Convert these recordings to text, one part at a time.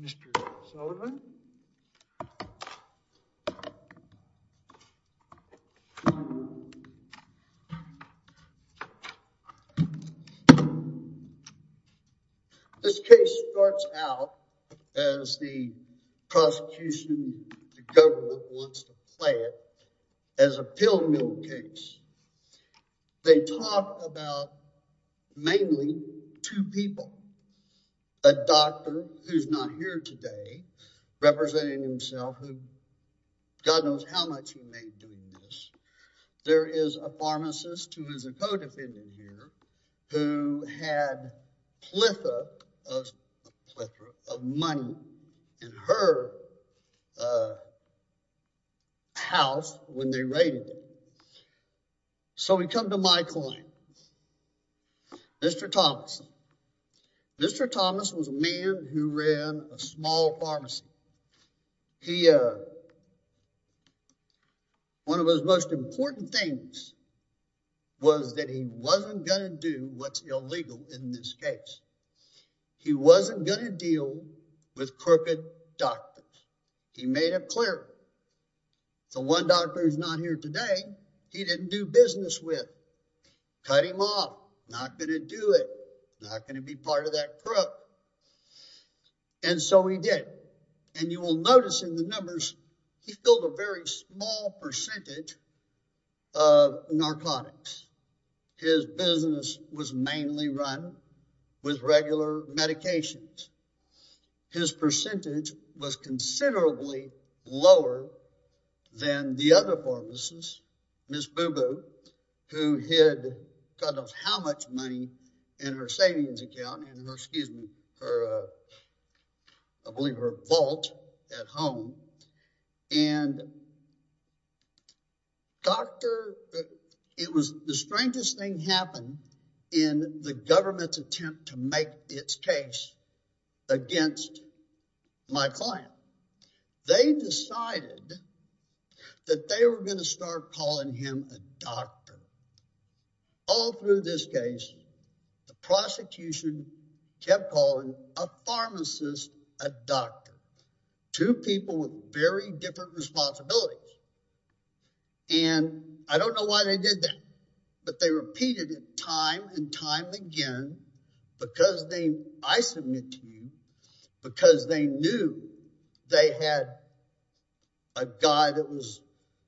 This case starts out, as the prosecution, the government wants to play it, as a pill mill case. They talk about mainly two people, a doctor who's not here today, representing himself, who God knows how much he made doing this. There is a pharmacist who is a co-defendant here who had a plethora of money in her house when they raided it. So we come to my client, Mr. Thomas. Mr. Thomas was a man who ran a small pharmacy. One of his most important things was that he wasn't going to do what's illegal in this case. He wasn't going to deal with crooked doctors. He made it clear. The one doctor who's not here today, he didn't do business with. Cut him off. Not going to do it. Not going to be part of that crook. And so he did. And you will notice in the numbers, he filled a very small percentage of narcotics. His business was mainly run with regular medications. His percentage was considerably lower than the other pharmacist, Ms. Boo Boo, who had God knows how much money in her savings account, in her, excuse me, her, I believe her vault at home. And doctor, it was the strangest thing happened in the government's attempt to make its case against my client. They decided that they were going to start calling him a doctor. All through this case, the prosecution kept calling a pharmacist, a doctor. Two people with very different responsibilities. And I don't know why they did that. But they repeated it time and time again because they, I submit to you, because they knew they had a guy that was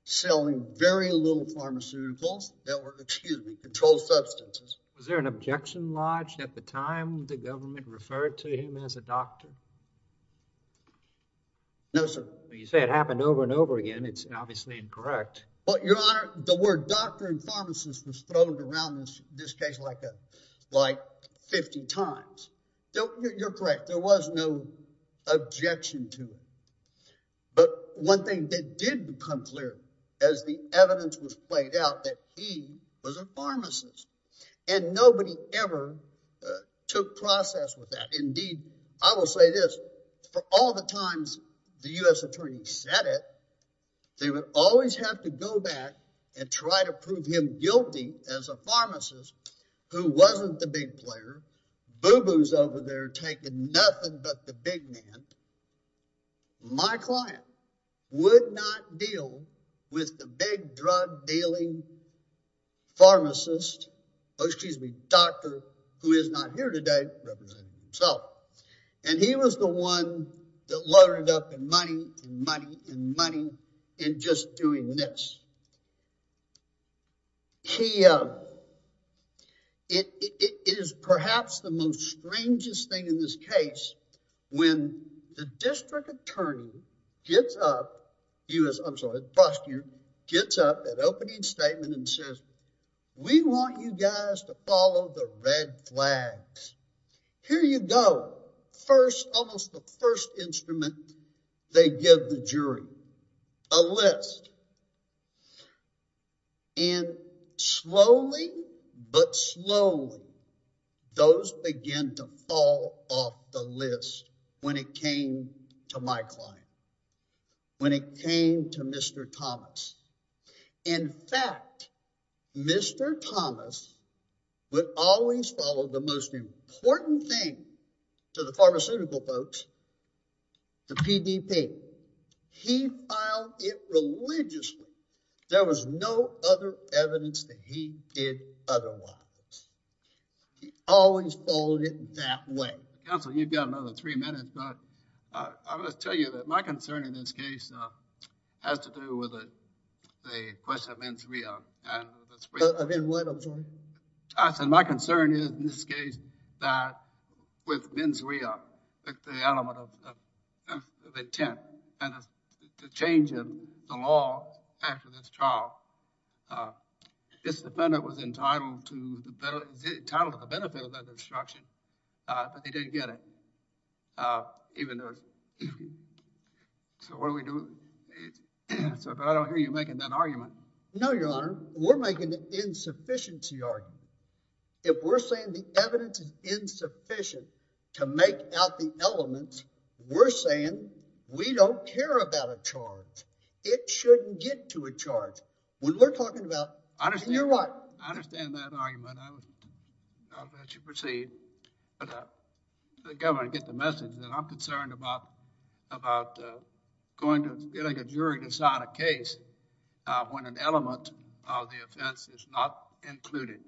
selling very little pharmaceuticals that were, excuse me, controlled substances. Was there an objection lodged at the time the government referred to him as a doctor? No, sir. You say it happened over and over again. It's obviously incorrect. Well, Your Honor, the word doctor and pharmacist was thrown around this case like 50 times. You're correct. There was no objection to it. But one thing that did become clear as the evidence was played out that he was a pharmacist. And nobody ever took process with that. Indeed, I will say this. For all the times the U.S. attorney said it, they would always have to go back and try to prove him guilty as a pharmacist who wasn't the big player. Boo-boos over there taking nothing but the big man. My client would not deal with the big drug dealing pharmacist, oh, excuse me, doctor who is not here today representing himself. And he was the one that loaded up in money and money and money in just doing this. He, it is perhaps the most strangest thing in this case when the district attorney gets up, I'm sorry, the prosecutor gets up at opening statement and says, we want you guys to follow the red flags. Here you go. First, almost the first instrument they give the jury, a list. And slowly but slowly, those begin to fall off the list when it came to my client, when it came to Mr. Thomas. In fact, Mr. Thomas would always follow the most important thing to the pharmaceutical folks, the PDP. He filed it religiously. There was no other evidence that he did otherwise. He always followed it that way. Counsel, you've got another three minutes, but I'm going to tell you that my concern in this case has to do with the question of mens rea. I said my concern is in this case that with mens rea, the element of intent and the change in the law after this trial, this defendant was entitled to the benefit of that instruction, but they didn't get it. So what do we do? I don't hear you making that argument. No, Your Honor, we're making an insufficiency argument. If we're saying the evidence is insufficient to make out the elements, we're saying we don't care about a charge. It shouldn't get to a charge. When we're talking about, you're right. I understand that argument. I'll let you proceed. The government gets the message that I'm concerned about getting a jury to decide a case when an element of the offense is not included.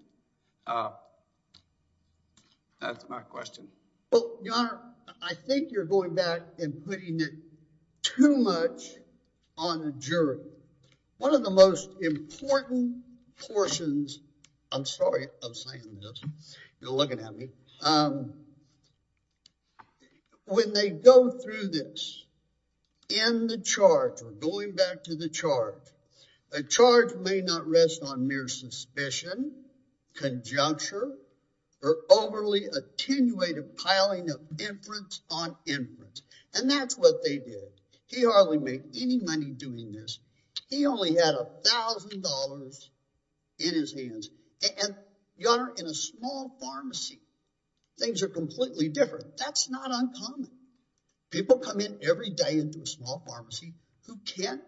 That's my question. Well, Your Honor, I think you're going back and putting it too much on the jury. One of the most important portions, I'm sorry I'm saying this. You're looking at me. When they go through this, in the charge or going back to the charge, a charge may not rest on mere suspicion, conjuncture, or overly attenuated piling of inference on inference. And that's what they did. He hardly made any money doing this. He only had $1,000 in his hands. And, Your Honor, in a small pharmacy, things are completely different. That's not uncommon. People come in every day into a small pharmacy who can't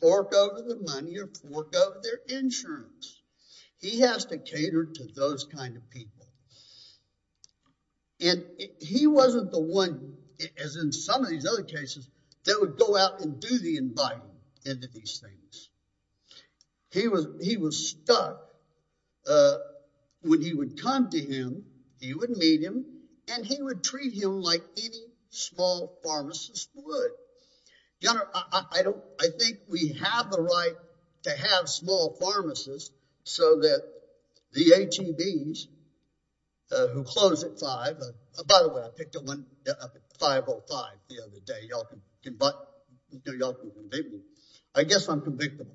fork over the money or fork over their insurance. He has to cater to those kind of people. And he wasn't the one, as in some of these other cases, that would go out and do the inviting into these things. He was stuck. When he would come to him, he would meet him, and he would treat him like any small pharmacist would. Your Honor, I think we have the right to have small pharmacists so that the ATVs who close at 5. By the way, I picked up one up at 505 the other day. Y'all can convict me. I guess I'm convictable.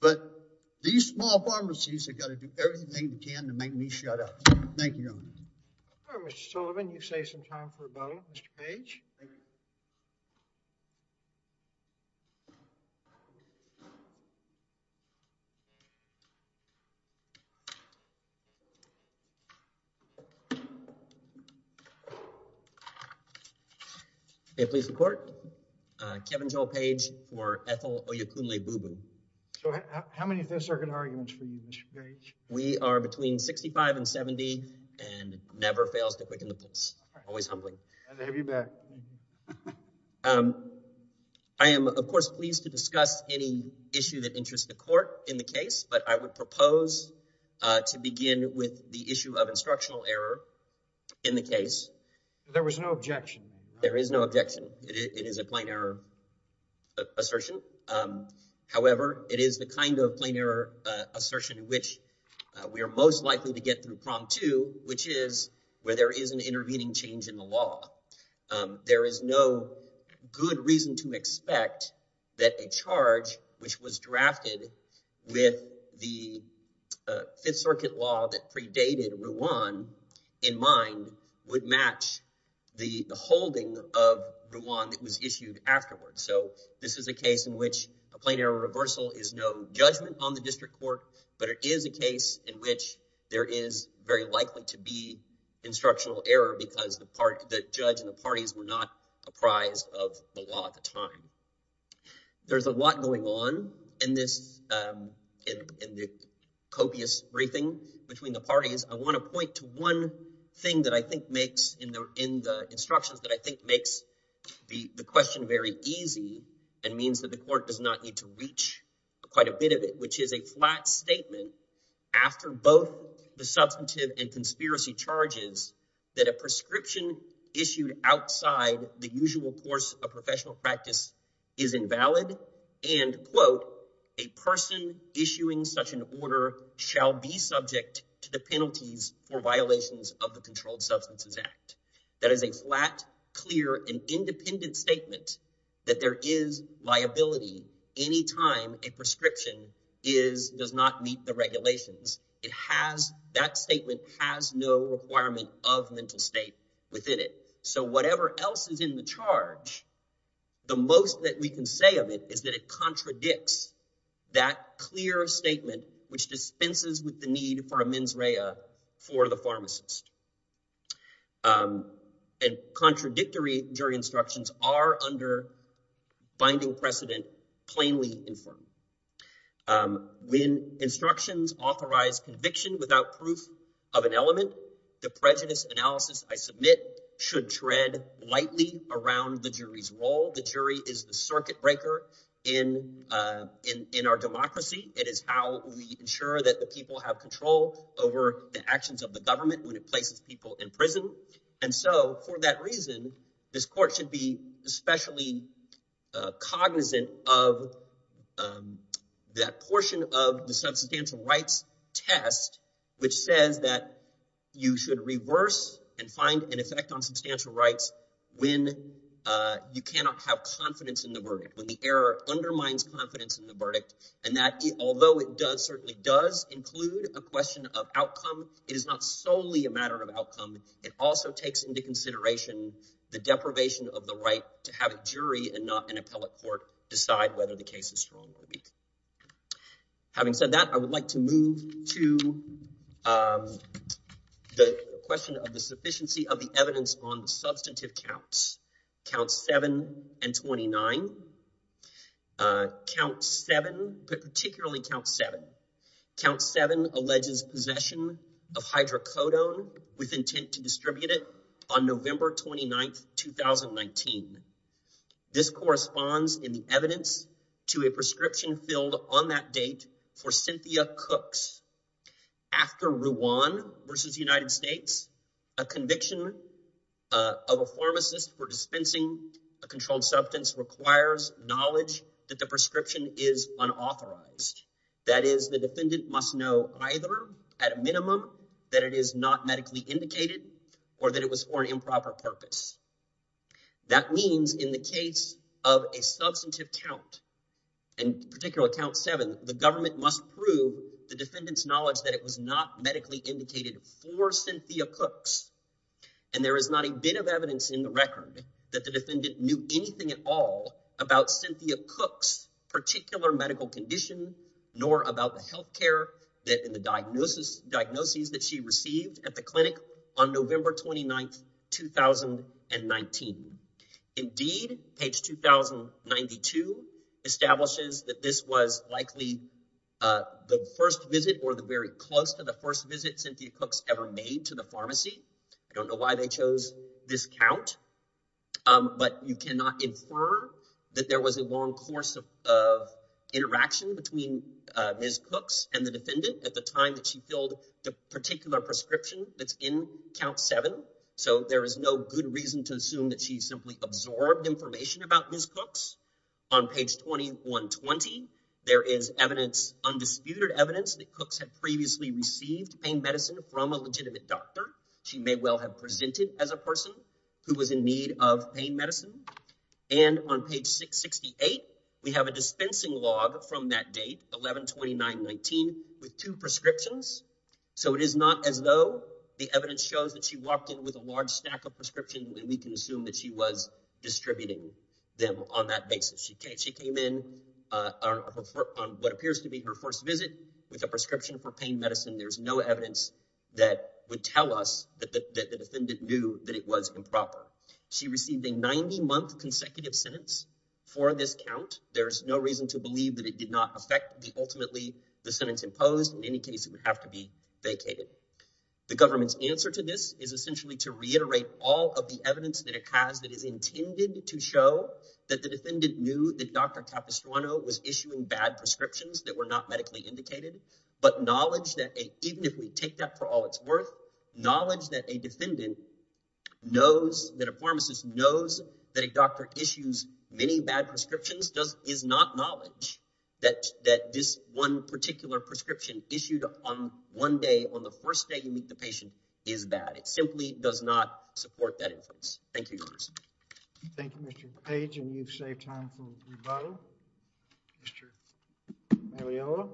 But these small pharmacies have got to do everything they can to make me shut up. Thank you, Your Honor. All right, Mr. Sullivan, you've saved some time for a moment. Mr. Page? May it please the Court? Kevin Joel Page for Ethel Oyukunle-Bubun. So how many of those are good arguments for you, Mr. Page? We are between 65 and 70 and never fails to quicken the pace, always humbly. Glad to have you back. I am, of course, pleased to discuss any issue that interests the Court in the case, but I would propose to begin with the issue of instructional error in the case. There was no objection. There is no objection. It is a plain error assertion. However, it is the kind of plain error assertion in which we are most likely to get through Prompt 2, which is where there is an intervening change in the law. There is no good reason to expect that a charge which was drafted with the Fifth Circuit law that predated Ruan in mind would match the holding of Ruan that was issued afterwards. So this is a case in which a plain error reversal is no judgment on the district court, but it is a case in which there is very likely to be instructional error because the judge and the parties were not apprised of the law at the time. There is a lot going on in this copious briefing between the parties. I want to point to one thing in the instructions that I think makes the question very easy and means that the Court does not need to reach quite a bit of it, which is a flat statement after both the substantive and conspiracy charges that a prescription issued outside the usual course of professional practice is invalid. And, quote, a person issuing such an order shall be subject to the penalties for violations of the Controlled Substances Act. That is a flat, clear, and independent statement that there is liability any time a prescription does not meet the regulations. It has – that statement has no requirement of mental state within it. So whatever else is in the charge, the most that we can say of it is that it contradicts that clear statement, which dispenses with the need for a mens rea for the pharmacist. And contradictory jury instructions are, under binding precedent, plainly infirm. When instructions authorize conviction without proof of an element, the prejudice analysis I submit should tread lightly around the jury's role. The jury is the circuit breaker in our democracy. It is how we ensure that the people have control over the actions of the government when it places people in prison. And so for that reason, this court should be especially cognizant of that portion of the substantial rights test, which says that you should reverse and find an effect on substantial rights when you cannot have confidence in the verdict, when the error undermines confidence in the verdict. And that, although it does – certainly does include a question of outcome, it is not solely a matter of outcome. It also takes into consideration the deprivation of the right to have a jury and not an appellate court decide whether the case is strong or weak. Having said that, I would like to move to the question of the sufficiency of the evidence on the substantive counts, counts 7 and 29. Count 7, but particularly count 7. Count 7 alleges possession of hydrocodone with intent to distribute it on November 29, 2019. This corresponds in the evidence to a prescription filled on that date for Cynthia Cooks. After Ruan versus United States, a conviction of a pharmacist for dispensing a controlled substance requires knowledge that the prescription is unauthorized. That is, the defendant must know either at a minimum that it is not medically indicated or that it was for an improper purpose. That means in the case of a substantive count, and particularly count 7, the government must prove the defendant's knowledge that it was not medically indicated for Cynthia Cooks. And there is not a bit of evidence in the record that the defendant knew anything at all about Cynthia Cooks' particular medical condition, nor about the health care and the diagnoses that she received at the clinic on November 29, 2019. Indeed, page 2092 establishes that this was likely the first visit or the very close to the first visit Cynthia Cooks ever made to the pharmacy. I don't know why they chose this count, but you cannot infer that there was a long course of interaction between Ms. Cooks and the defendant at the time that she filled the particular prescription that's in count 7. So there is no good reason to assume that she simply absorbed information about Ms. Cooks. On page 2120, there is evidence, undisputed evidence, that Cooks had previously received pain medicine from a legitimate doctor. She may well have presented as a person who was in need of pain medicine. And on page 668, we have a dispensing log from that date, 11-29-19, with two prescriptions. So it is not as though the evidence shows that she walked in with a large stack of prescriptions, and we can assume that she was distributing them on that basis. She came in on what appears to be her first visit with a prescription for pain medicine. There is no evidence that would tell us that the defendant knew that it was improper. She received a 90-month consecutive sentence for this count. There is no reason to believe that it did not affect the ultimately the sentence imposed. In any case, it would have to be vacated. The government's answer to this is essentially to reiterate all of the evidence that it has that is intended to show that the defendant knew that Dr. Capistrano was issuing bad prescriptions that were not medically indicated. But knowledge that even if we take that for all it's worth, knowledge that a defendant knows that a pharmacist knows that a doctor issues many bad prescriptions is not knowledge that this one particular prescription issued on one day, on the first day you meet the patient, is bad. It simply does not support that inference. Thank you, Mr. Page, and you've saved time for rebuttal. Mr. Magliolo.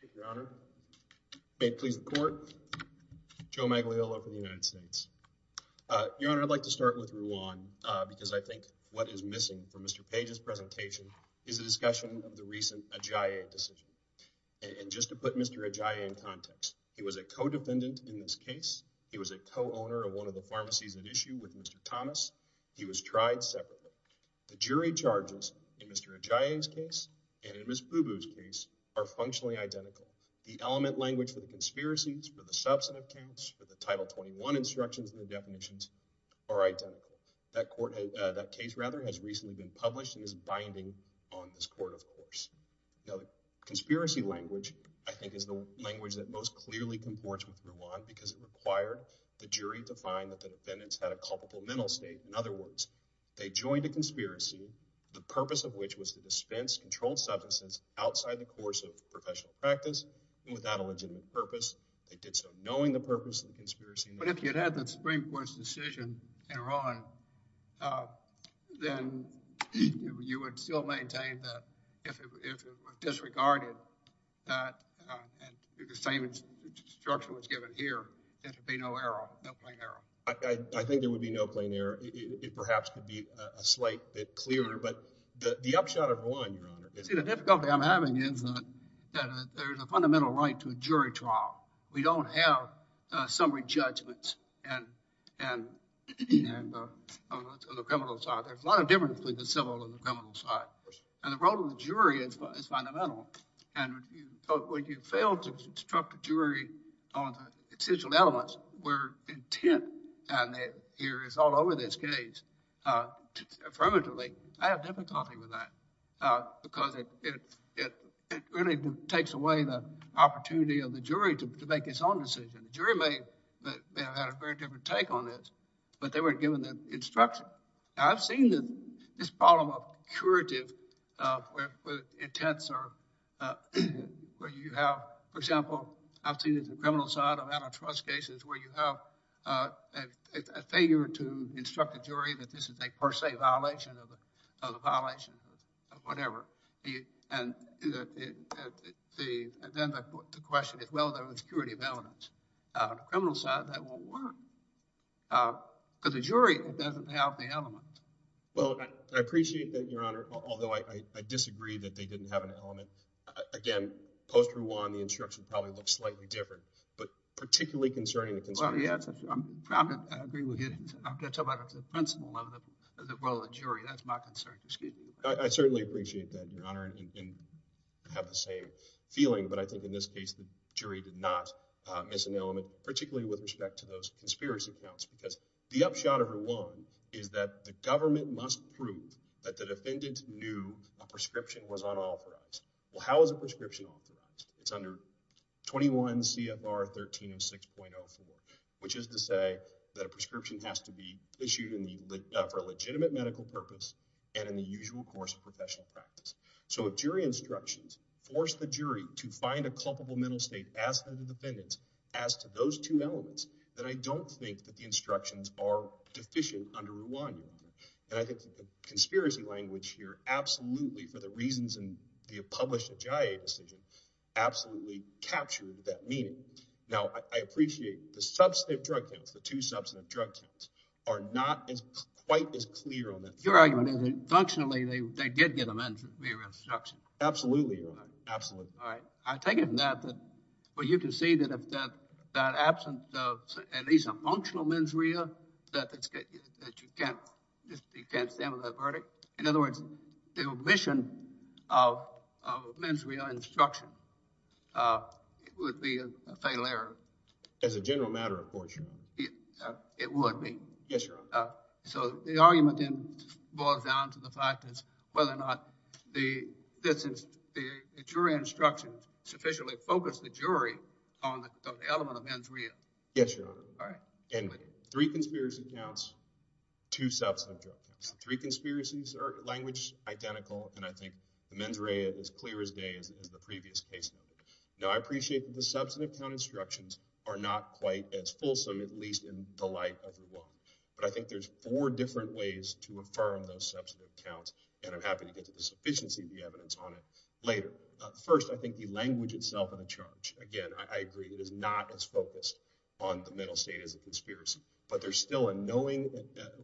Thank you, Your Honor. May it please the Court? Joe Magliolo from the United States. Your Honor, I'd like to start with Ruan because I think what is missing from Mr. Page's presentation is a discussion of the recent Ajaye decision. And just to put Mr. Ajaye in context, he was a co-defendant in this case. He was a co-owner of one of the pharmacies at issue with Mr. Thomas. He was tried separately. The jury charges in Mr. Ajaye's case and in Ms. Bubu's case are functionally identical. The element language for the conspiracies, for the substantive case, for the Title 21 instructions and definitions are identical. That case, rather, has recently been published and is binding on this Court, of course. Conspiracy language, I think, is the language that most clearly comports with Ruan because it required the jury to find that the defendants had a culpable mental state. In other words, they joined a conspiracy, the purpose of which was to dispense controlled substances outside the course of professional practice and without a legitimate purpose. They did so knowing the purpose of the conspiracy. But if you had had the Supreme Court's decision in Ruan, then you would still maintain that if it were disregarded, that the same instruction was given here, there would be no error, no plain error. I think there would be no plain error. It perhaps could be a slight bit clearer. But the upshot of Ruan, Your Honor— See, the difficulty I'm having is that there's a fundamental right to a jury trial. We don't have summary judgments on the criminal side. There's a lot of difference between the civil and the criminal side. And the role of the jury is fundamental. And when you fail to instruct the jury on the essential elements, where intent is all over this case, affirmatively, I have difficulty with that. Because it really takes away the opportunity of the jury to make its own decision. The jury may have had a very different take on this, but they weren't given the instruction. I've seen this problem of curative intents where you have—for example, I've seen the criminal side of antitrust cases where you have a failure to instruct a jury that this is a per se violation of a violation of whatever. And then the question is whether there was curative evidence. On the criminal side, that won't work. Because the jury doesn't have the element. Well, I appreciate that, Your Honor, although I disagree that they didn't have an element. Again, post-Ruan, the instruction probably looks slightly different. But particularly concerning the— I agree with you. I'm going to talk about the principle of the role of the jury. That's my concern. Excuse me. I certainly appreciate that, Your Honor. I have the same feeling, but I think in this case the jury did not miss an element, particularly with respect to those conspiracy counts. Because the upshot of Ruan is that the government must prove that the defendant knew a prescription was unauthorized. Well, how is a prescription unauthorized? It's under 21 CFR 13 and 6.04, which is to say that a prescription has to be issued for a legitimate medical purpose and in the usual course of professional practice. So if jury instructions force the jury to find a culpable mental state as to the defendants, as to those two elements, then I don't think that the instructions are deficient under Ruan. And I think that the conspiracy language here absolutely, for the reasons in the published JIA decision, absolutely captured that meaning. Now, I appreciate the substantive drug counts, the two substantive drug counts, are not quite as clear on that. Your argument is that functionally they did get a mens rea instruction. Absolutely, Your Honor. Absolutely. All right. I take it from that that – well, you can see that if that absent at least a functional mens rea that you can't stand on that verdict. In other words, the omission of mens rea instruction would be a fatal error. As a general matter, of course, Your Honor. It would be. Yes, Your Honor. So the argument then boils down to the fact that whether or not the jury instructions sufficiently focused the jury on the element of mens rea. Yes, Your Honor. All right. And three conspiracy counts, two substantive drug counts. Three conspiracies are language identical, and I think the mens rea is clear as day as the previous case. Now, I appreciate that the substantive count instructions are not quite as fulsome, at least in the light of the law. But I think there's four different ways to affirm those substantive counts, and I'm happy to get to the sufficiency of the evidence on it later. First, I think the language itself in a charge. Again, I agree it is not as focused on the mental state as a conspiracy. But there's still a knowing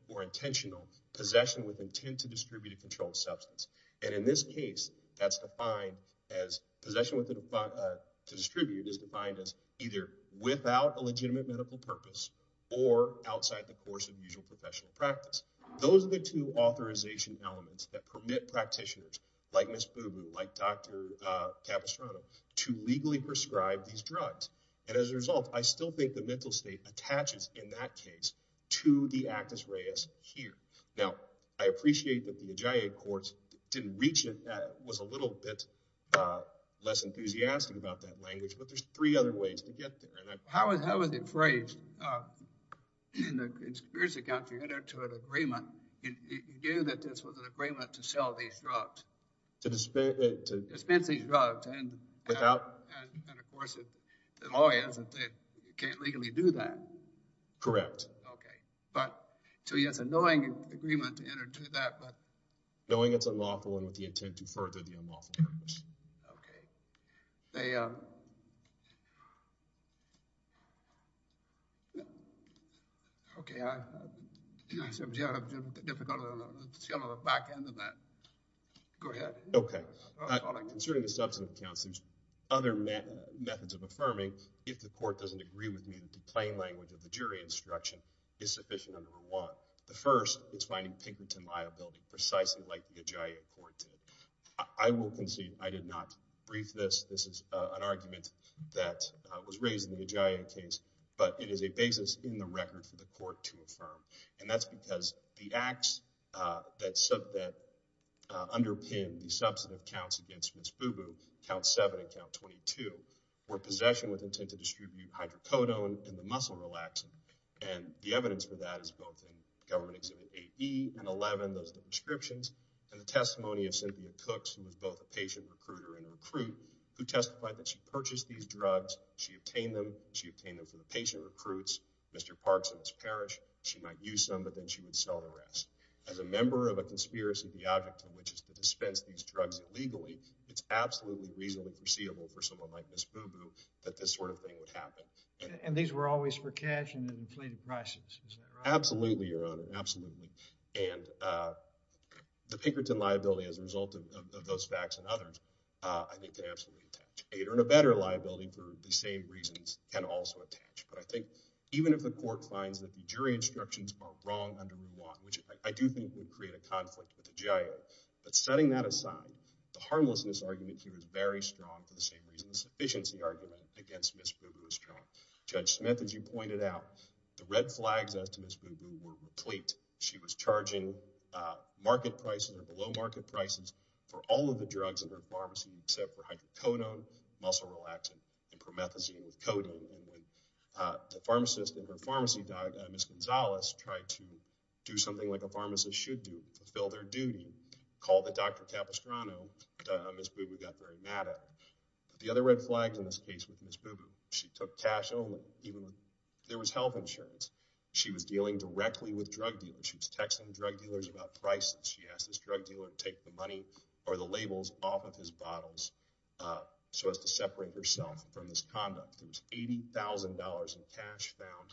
or intentional possession with intent to distribute a controlled substance. And in this case, that's defined as possession with intent to distribute is defined as either without a legitimate medical purpose or outside the course of usual professional practice. Those are the two authorization elements that permit practitioners like Ms. Booboo, like Dr. Capistrano to legally prescribe these drugs. And as a result, I still think the mental state attaches in that case to the actus reus here. Now, I appreciate that the Magia courts didn't reach it. That was a little bit less enthusiastic about that language. But there's three other ways to get there. How was it phrased in the conspiracy counter to an agreement? You knew that this was an agreement to sell these drugs, to dispense these drugs. And of course, the law is that they can't legally do that. Correct. So yes, a knowing agreement to enter into that. Knowing it's unlawful and with the intent to further the unlawful purpose. Okay. Okay. Concerning the substance counts, there's other methods of affirming if the court doesn't agree with me that the plain language of the jury instruction is sufficient under the law. The first is finding Pinkerton liability precisely like the Magia court did. I will concede I did not brief this. This is an argument that was raised in the Magia case. But it is a basis in the record for the court to affirm. And that's because the acts that underpin the substance counts against Ms. Boo Boo, Count 7 and Count 22, were possession with intent to distribute hydrocodone and the muscle relaxant. And the evidence for that is both in Government Exhibit 8E and 11, those are the prescriptions. And the testimony of Cynthia Cooks, who was both a patient recruiter and a recruit, who testified that she purchased these drugs. She obtained them. She obtained them from the patient recruits, Mr. Parks and Ms. Parrish. She might use some, but then she would sell the rest. As a member of a conspiracy of the object, which is to dispense these drugs illegally, it's absolutely reasonable and foreseeable for someone like Ms. Boo Boo that this sort of thing would happen. And these were always for cash and in inflated prices, is that right? Absolutely, Your Honor. Absolutely. And the Pinkerton liability as a result of those facts and others, I think, can absolutely attach. And a better liability for the same reasons can also attach. But I think even if the court finds that the jury instructions are wrong under Rule 1, which I do think would create a conflict with the GIO, but setting that aside, the harmlessness argument here is very strong for the same reasons. The sufficiency argument against Ms. Boo Boo is strong. Judge Smith, as you pointed out, the red flags as to Ms. Boo Boo were complete. She was charging market prices or below market prices for all of the drugs in her pharmacy except for hydrocodone, muscle relaxant, and promethazine with codeine. The pharmacist in her pharmacy, Ms. Gonzalez, tried to do something like a pharmacist should do, fulfill their duty, called the doctor Capistrano. Ms. Boo Boo got very mad at her. The other red flags in this case was Ms. Boo Boo. She took cash only, even if there was health insurance. She was dealing directly with drug dealers. She was texting drug dealers about prices. She asked this drug dealer to take the money or the labels off of his bottles so as to separate herself from his conduct. There was $80,000 in cash found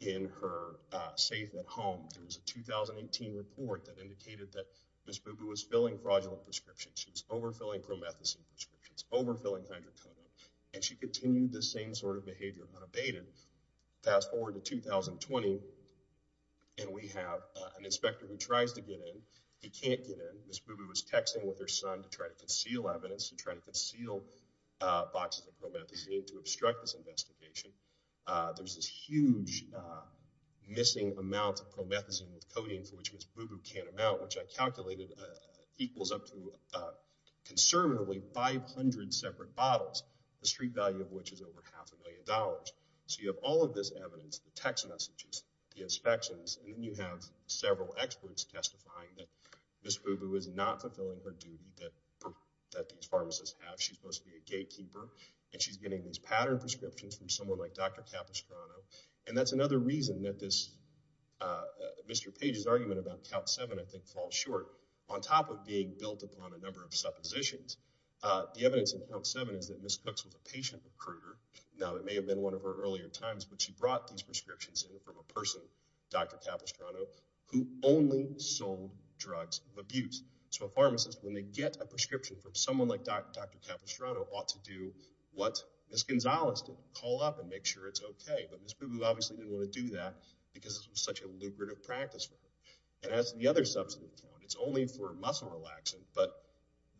in her safe at home. There was a 2018 report that indicated that Ms. Boo Boo was filling fraudulent prescriptions. She was overfilling promethazine prescriptions, overfilling hydrocodone, and she continued this same sort of behavior unabated. Fast forward to 2020, and we have an inspector who tries to get in. He can't get in. Ms. Boo Boo was texting with her son to try to conceal evidence and try to conceal boxes of promethazine to obstruct this investigation. There was this huge missing amount of promethazine with codeine for which Ms. Boo Boo can't amount, which I calculated equals up to conservatively 500 separate bottles, the street value of which is over half a million dollars. So you have all of this evidence, the text messages, the inspections, and then you have several experts testifying that Ms. Boo Boo is not fulfilling her duty that these pharmacists have. She's supposed to be a gatekeeper, and she's getting these pattern prescriptions from someone like Dr. Capistrano, and that's another reason that this Mr. Page's argument about Count 7, I think, falls short. On top of being built upon a number of suppositions, the evidence in Count 7 is that Ms. Cooks was a patient recruiter. Now, it may have been one of her earlier times, but she brought these prescriptions in from a person, Dr. Capistrano, who only sold drugs of abuse. So a pharmacist, when they get a prescription from someone like Dr. Capistrano, ought to do what Ms. Gonzalez did, call up and make sure it's okay. But Ms. Boo Boo obviously didn't want to do that because it was such a lucrative practice for her. And as the other substance, it's only for muscle relaxing, but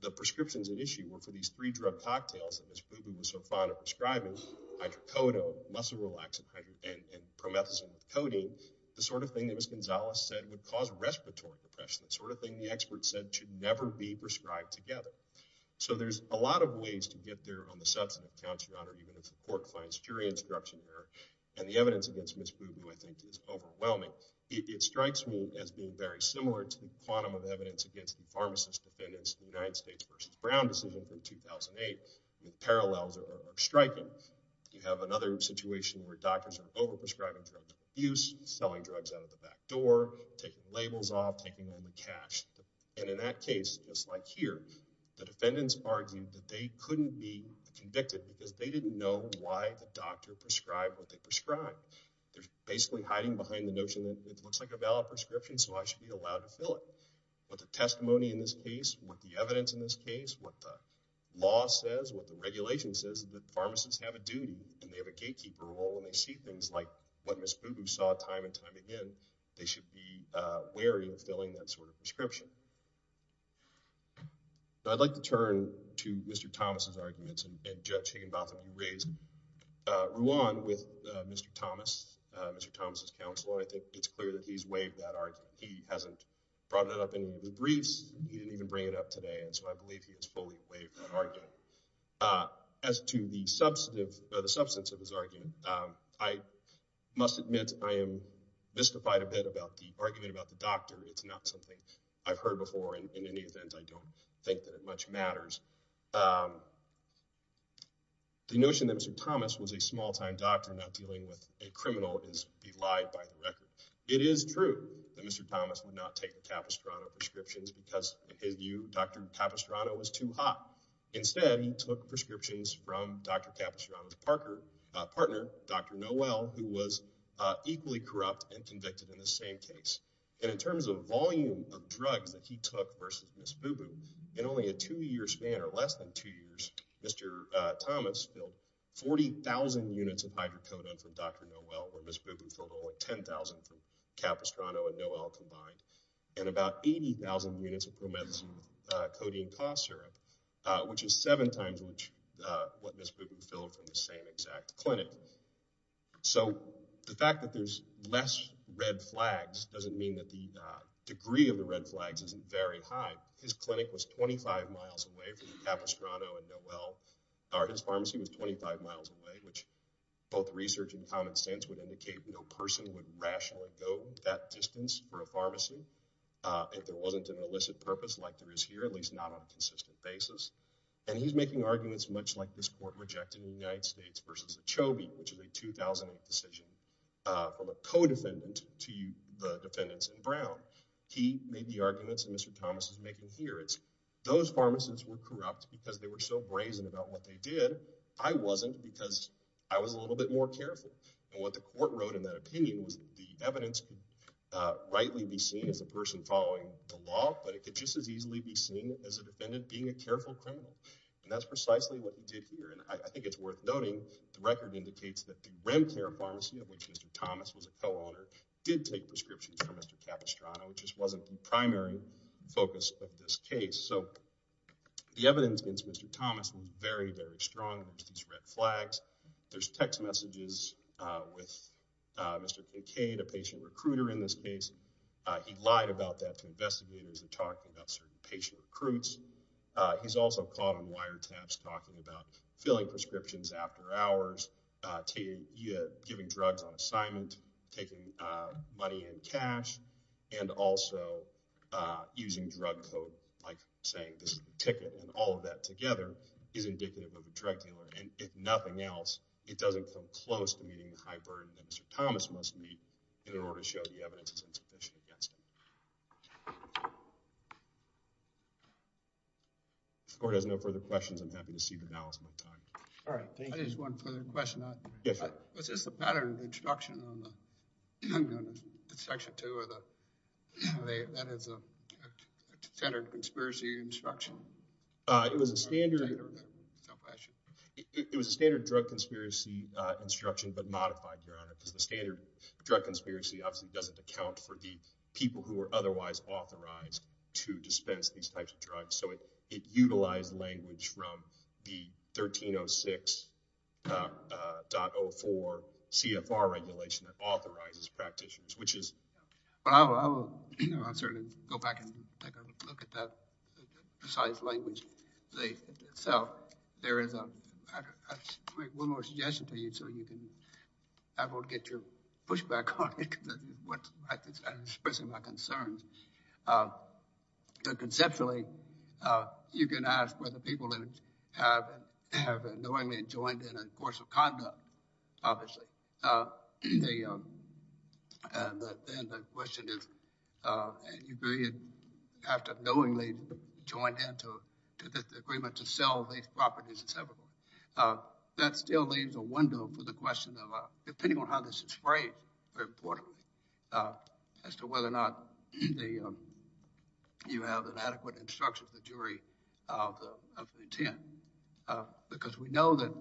the prescriptions at issue were for these three drug cocktails that Ms. Boo Boo was so fond of prescribing, hydrocodone, muscle relaxing, and promethazine with codeine, the sort of thing that Ms. Gonzalez said would cause respiratory depression, the sort of thing the expert said should never be prescribed together. So there's a lot of ways to get there on the substance of Count 7, even if the court finds jury instruction there. And the evidence against Ms. Boo Boo, I think, is overwhelming. It strikes me as being very similar to the quantum of evidence against the pharmacist defendants in the United States v. Brown v. Hilton in 2008. The parallels are striking. You have another situation where doctors are overprescribing drugs of abuse, selling drugs out of the back door, taking labels off, taking over cash. And in that case, just like here, the defendants argued that they couldn't be convicted because they didn't know why a doctor prescribed what they prescribed. They're basically hiding behind the notion that it looks like a valid prescription, so I should be allowed to fill it. But the testimony in this case, what the evidence in this case, what the law says, what the regulation says, is that pharmacists have a duty and they have a gatekeeper role and they see things like what Ms. Boo Boo saw time and time again. They should be wary of filling that sort of prescription. I'd like to turn to Mr. Thomas' arguments and Judge Higginbotham raised. I grew on with Mr. Thomas, Mr. Thomas' counsel, and I think it's clear that he's waived that argument. He hasn't brought it up in any of the briefs. He didn't even bring it up today, and so I believe he has fully waived that argument. As to the substance of his argument, I must admit I am mystified a bit about the argument about the doctor. It's not something I've heard before. In any event, I don't think that it much matters. The notion that Mr. Thomas was a small-time doctor not dealing with a criminal is belied by the record. It is true that Mr. Thomas would not take the Capistrano prescriptions because, in his view, Dr. Capistrano was too hot. Instead, he took prescriptions from Dr. Capistrano's partner, Dr. Noel, who was equally corrupt and convicted in the same case. And in terms of volume of drugs that he took versus Ms. Boo Boo, in only a two-year span or less than two years, Mr. Thomas filled 40,000 units of hydrocodone from Dr. Noel, where Ms. Boo Boo filled only 10,000 from Capistrano and Noel combined, and about 80,000 units of promethazine codeine cough syrup, which is seven times what Ms. Boo Boo filled from the same exact clinic. So the fact that there's less red flags doesn't mean that the degree of the red flags isn't very high. His clinic was 25 miles away from Capistrano and Noel, or his pharmacy was 25 miles away, which both research and common sense would indicate no person would rationally go that distance for a pharmacy if there wasn't an illicit purpose like there is here, at least not on a consistent basis. And he's making arguments much like this court rejected in the United States versus Achebe, which is a 2008 decision from a co-defendant to the defendants in Brown. He made the arguments and Mr. Thomas is making here. It's those pharmacists were corrupt because they were so brazen about what they did. I wasn't because I was a little bit more careful. And what the court wrote in that opinion was the evidence could rightly be seen as a person following the law, but it could just as easily be seen as a defendant being a careful criminal. And that's precisely what he did here. And I think it's worth noting the record indicates that the Remcare pharmacy, of which Mr. Thomas was a co-owner, did take prescriptions from Mr. Capistrano, which just wasn't the primary focus of this case. So the evidence makes Mr. Thomas very, very strong against these red flags. There's text messages with Mr. McCade, a patient recruiter in this case. He lied about that to investigators. He talked about certain patient recruits. He's also caught on wiretaps talking about filling prescriptions after hours, giving drugs on assignment, taking money in cash, and also using drug code, like saying this is the ticket, and all of that together is indicative of a drug dealer. And if nothing else, it doesn't come close to meeting the high burden that Mr. Thomas must meet in order to show the evidence is insufficient against him. If the court has no further questions, I'm happy to see the balance of time. All right, thank you. I just have one further question. Yes, sir. Was this a pattern of instruction on Section 2 or that is a standard conspiracy instruction? It was a standard drug conspiracy instruction, but modified, Your Honor, because the standard drug conspiracy obviously doesn't account for the people who are otherwise authorized to dispense these types of drugs. So it utilized language from the 1306.04 CFR regulation that authorizes practitioners, which is— Well, I'll certainly go back and take a look at that precise language. So there is a—I'll make one more suggestion to you so you can—I won't get your pushback on it because I'm expressing my concerns. Conceptually, you can ask whether people have knowingly joined in a course of conduct, obviously. And then the question is, have they knowingly joined in to this agreement to sell these properties and so forth. That still leaves a window for the question of, depending on how this is framed, as to whether or not you have an adequate instruction from the jury of the intent. Because we know that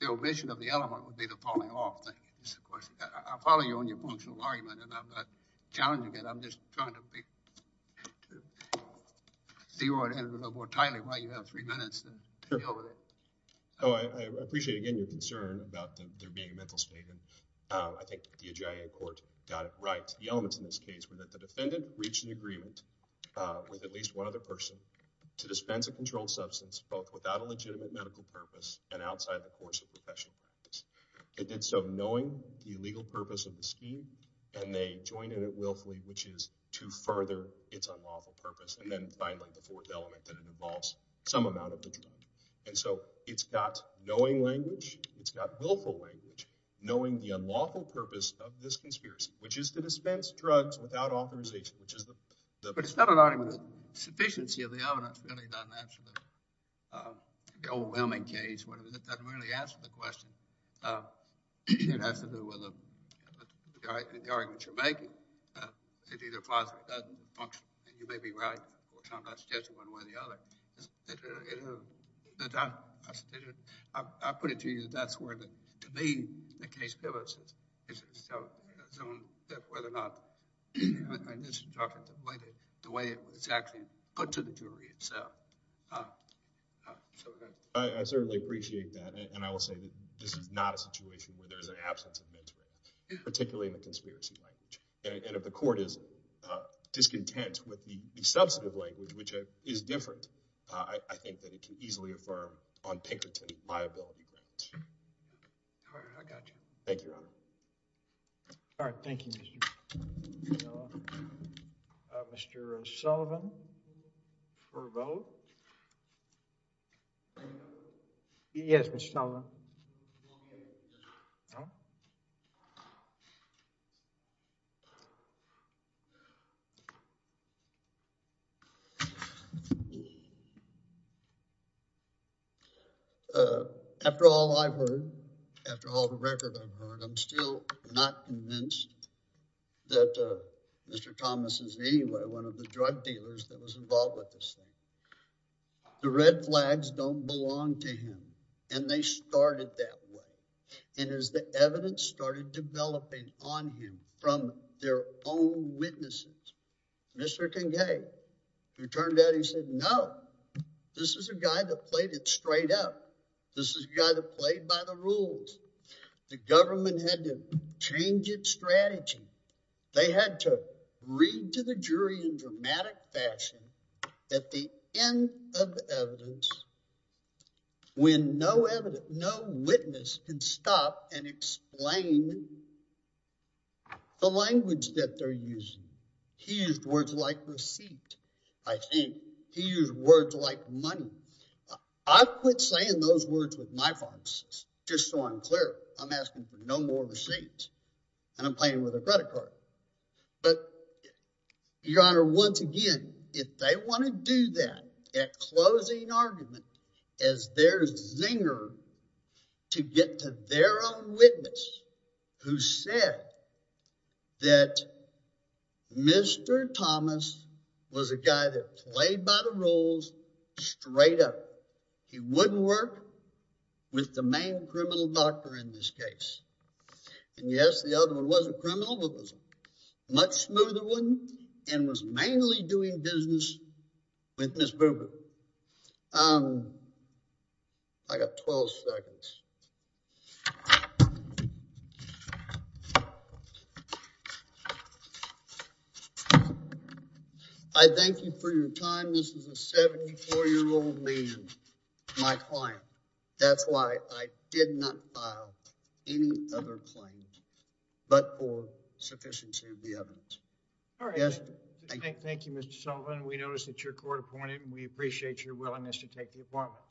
the omission of the element would be the falling off thing. I'll follow you on your emotional argument, and I'm not challenging it. I'm just trying to figure out a little more tightly why you have three minutes to deal with it. Oh, I appreciate, again, your concern about there being a mental statement. I think the AGIA court got it right. The elements in this case were that the defendant reached an agreement with at least one other person to dispense a controlled substance, both without a legitimate medical purpose and outside the course of professional practice. It did so knowing the legal purpose of the scheme, and they joined in it willfully, which is to further its unlawful purpose. And then finally, the fourth element, that it involves some amount of the jury. And so it's got knowing language. It's got willful language. Knowing the unlawful purpose of this conspiracy, which is to dispense drugs without authorization. But it's not an argument. The sufficiency of the evidence really doesn't answer the overwhelming case. It doesn't really answer the question. It has to do with the argument you're making. It either doesn't function, and you may be right, or sometimes I suggest it one way or the other. I'll put it to you. That's where, to me, the case bill is itself, whether or not I misinterpreted the way it was actually put to the jury itself. I certainly appreciate that, and I will say this is not a situation where there's an absence of mixed language, particularly in the conspiracy language. And if the court is discontent with the substantive language, which is different, I think that it can easily affirm on Pinkerton liability. All right. I got you. Thank you, Your Honor. All right. Thank you. Mr. Sullivan for a vote. Yes, Mr. Sullivan. After all I've heard, after all the record I've heard, I'm still not convinced that Mr. Thomas is anyway one of the drug dealers that was involved with this thing. The red flags don't belong to him, and they started that way. And as the evidence started developing on him from their own witnesses, Mr. Kincaid, who turned out, he said, no, this is a guy that played it straight up. This is a guy that played by the rules. The government had to change its strategy. They had to read to the jury in dramatic fashion at the end of the evidence when no witness can stop and explain the language that they're using. He used words like receipt, I think. He used words like money. I've quit saying those words with my pharmacist, just so I'm clear. I'm asking for no more receipts, and I'm playing with a credit card. But, Your Honor, once again, if they want to do that, that closing argument is their zinger to get to their own witness, who said that Mr. Thomas was a guy that played by the rules straight up. He wouldn't work with the main criminal doctor in this case. And, yes, the other one was a criminal, but was a much smoother one and was mainly doing business with Ms. Boober. I got 12 seconds. I thank you for your time. This is a 74-year-old man, my client. That's why I did not file any other claims but for sufficiency of the evidence. All right. Thank you, Mr. Sullivan. We noticed that you're court-appointed, and we appreciate your willingness to take the appointment.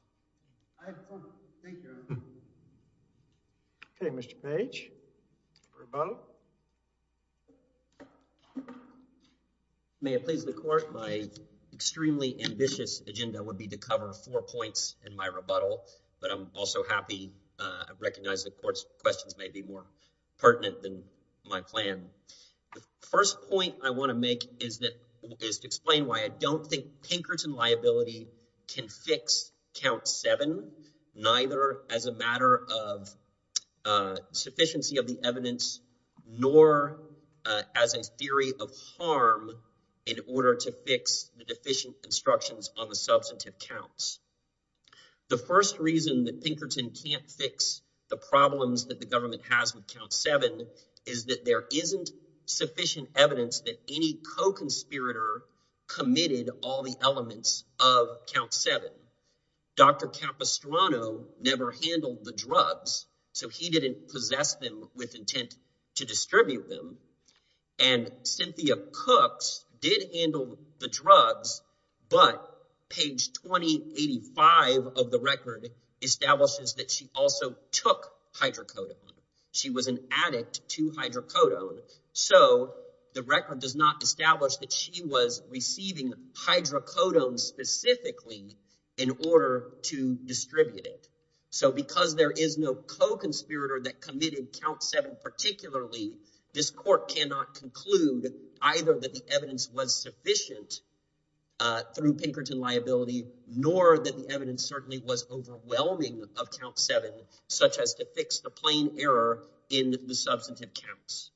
I had fun. Thank you, Your Honor. Okay, Mr. Page, rebuttal. May it please the Court, my extremely ambitious agenda would be to cover four points in my rebuttal, but I'm also happy. I recognize the Court's questions may be more pertinent than my plan. The first point I want to make is to explain why I don't think Pinkerton liability can fix Count 7, neither as a matter of sufficiency of the evidence nor as a theory of harm in order to fix the deficient instructions on the substantive counts. The first reason that Pinkerton can't fix the problems that the government has with Count 7 is that there isn't sufficient evidence that any co-conspirator committed all the elements of Count 7. Dr. Capistrano never handled the drugs, so he didn't possess them with intent to distribute them. And Cynthia Cooks did handle the drugs, but page 2085 of the record establishes that she also took hydrocodone. She was an addict to hydrocodone, so the record does not establish that she was receiving hydrocodone specifically in order to distribute it. So because there is no co-conspirator that committed Count 7 particularly, this Court cannot conclude either that the evidence was sufficient through Pinkerton liability, nor that the evidence certainly was overwhelming of Count 7, such as to fix the plain error in the substantive counts.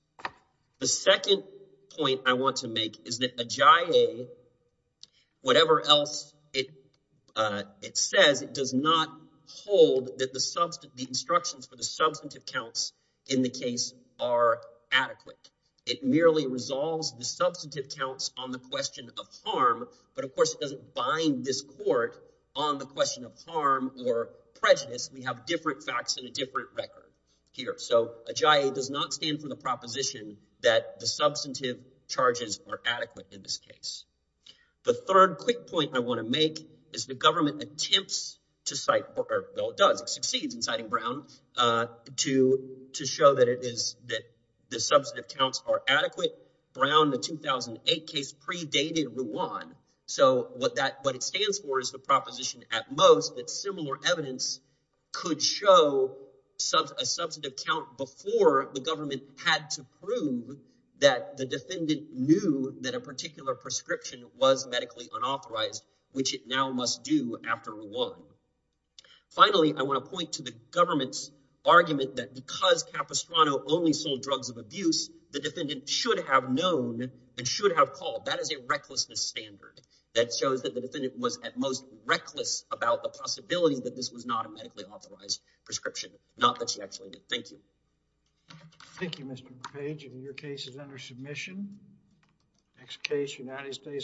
The second point I want to make is that a JIA, whatever else it says, it does not hold that the instructions for the substantive counts in the case are adequate. It merely resolves the substantive counts on the question of harm, but of course it doesn't bind this Court on the question of harm or prejudice. We have different facts in a different record here. So a JIA does not stand for the proposition that the substantive charges are adequate in this case. The third quick point I want to make is the government attempts to cite, well, it does, it succeeds in citing Brown, to show that the substantive counts are adequate. Brown, the 2008 case, predated Ruan. So what it stands for is the proposition at most that similar evidence could show a substantive count before the government had to prove that the defendant knew that a particular prescription was medically unauthorized, which it now must do after Ruan. Finally, I want to point to the government's argument that because Capistrano only sold drugs of abuse, the defendant should have known and should have called. That is a recklessness standard that shows that the defendant was at most reckless about the possibility that this was not a medically authorized prescription, not that she actually did. Thank you. Thank you, Mr. Page. Your case is under submission. Next case, United States.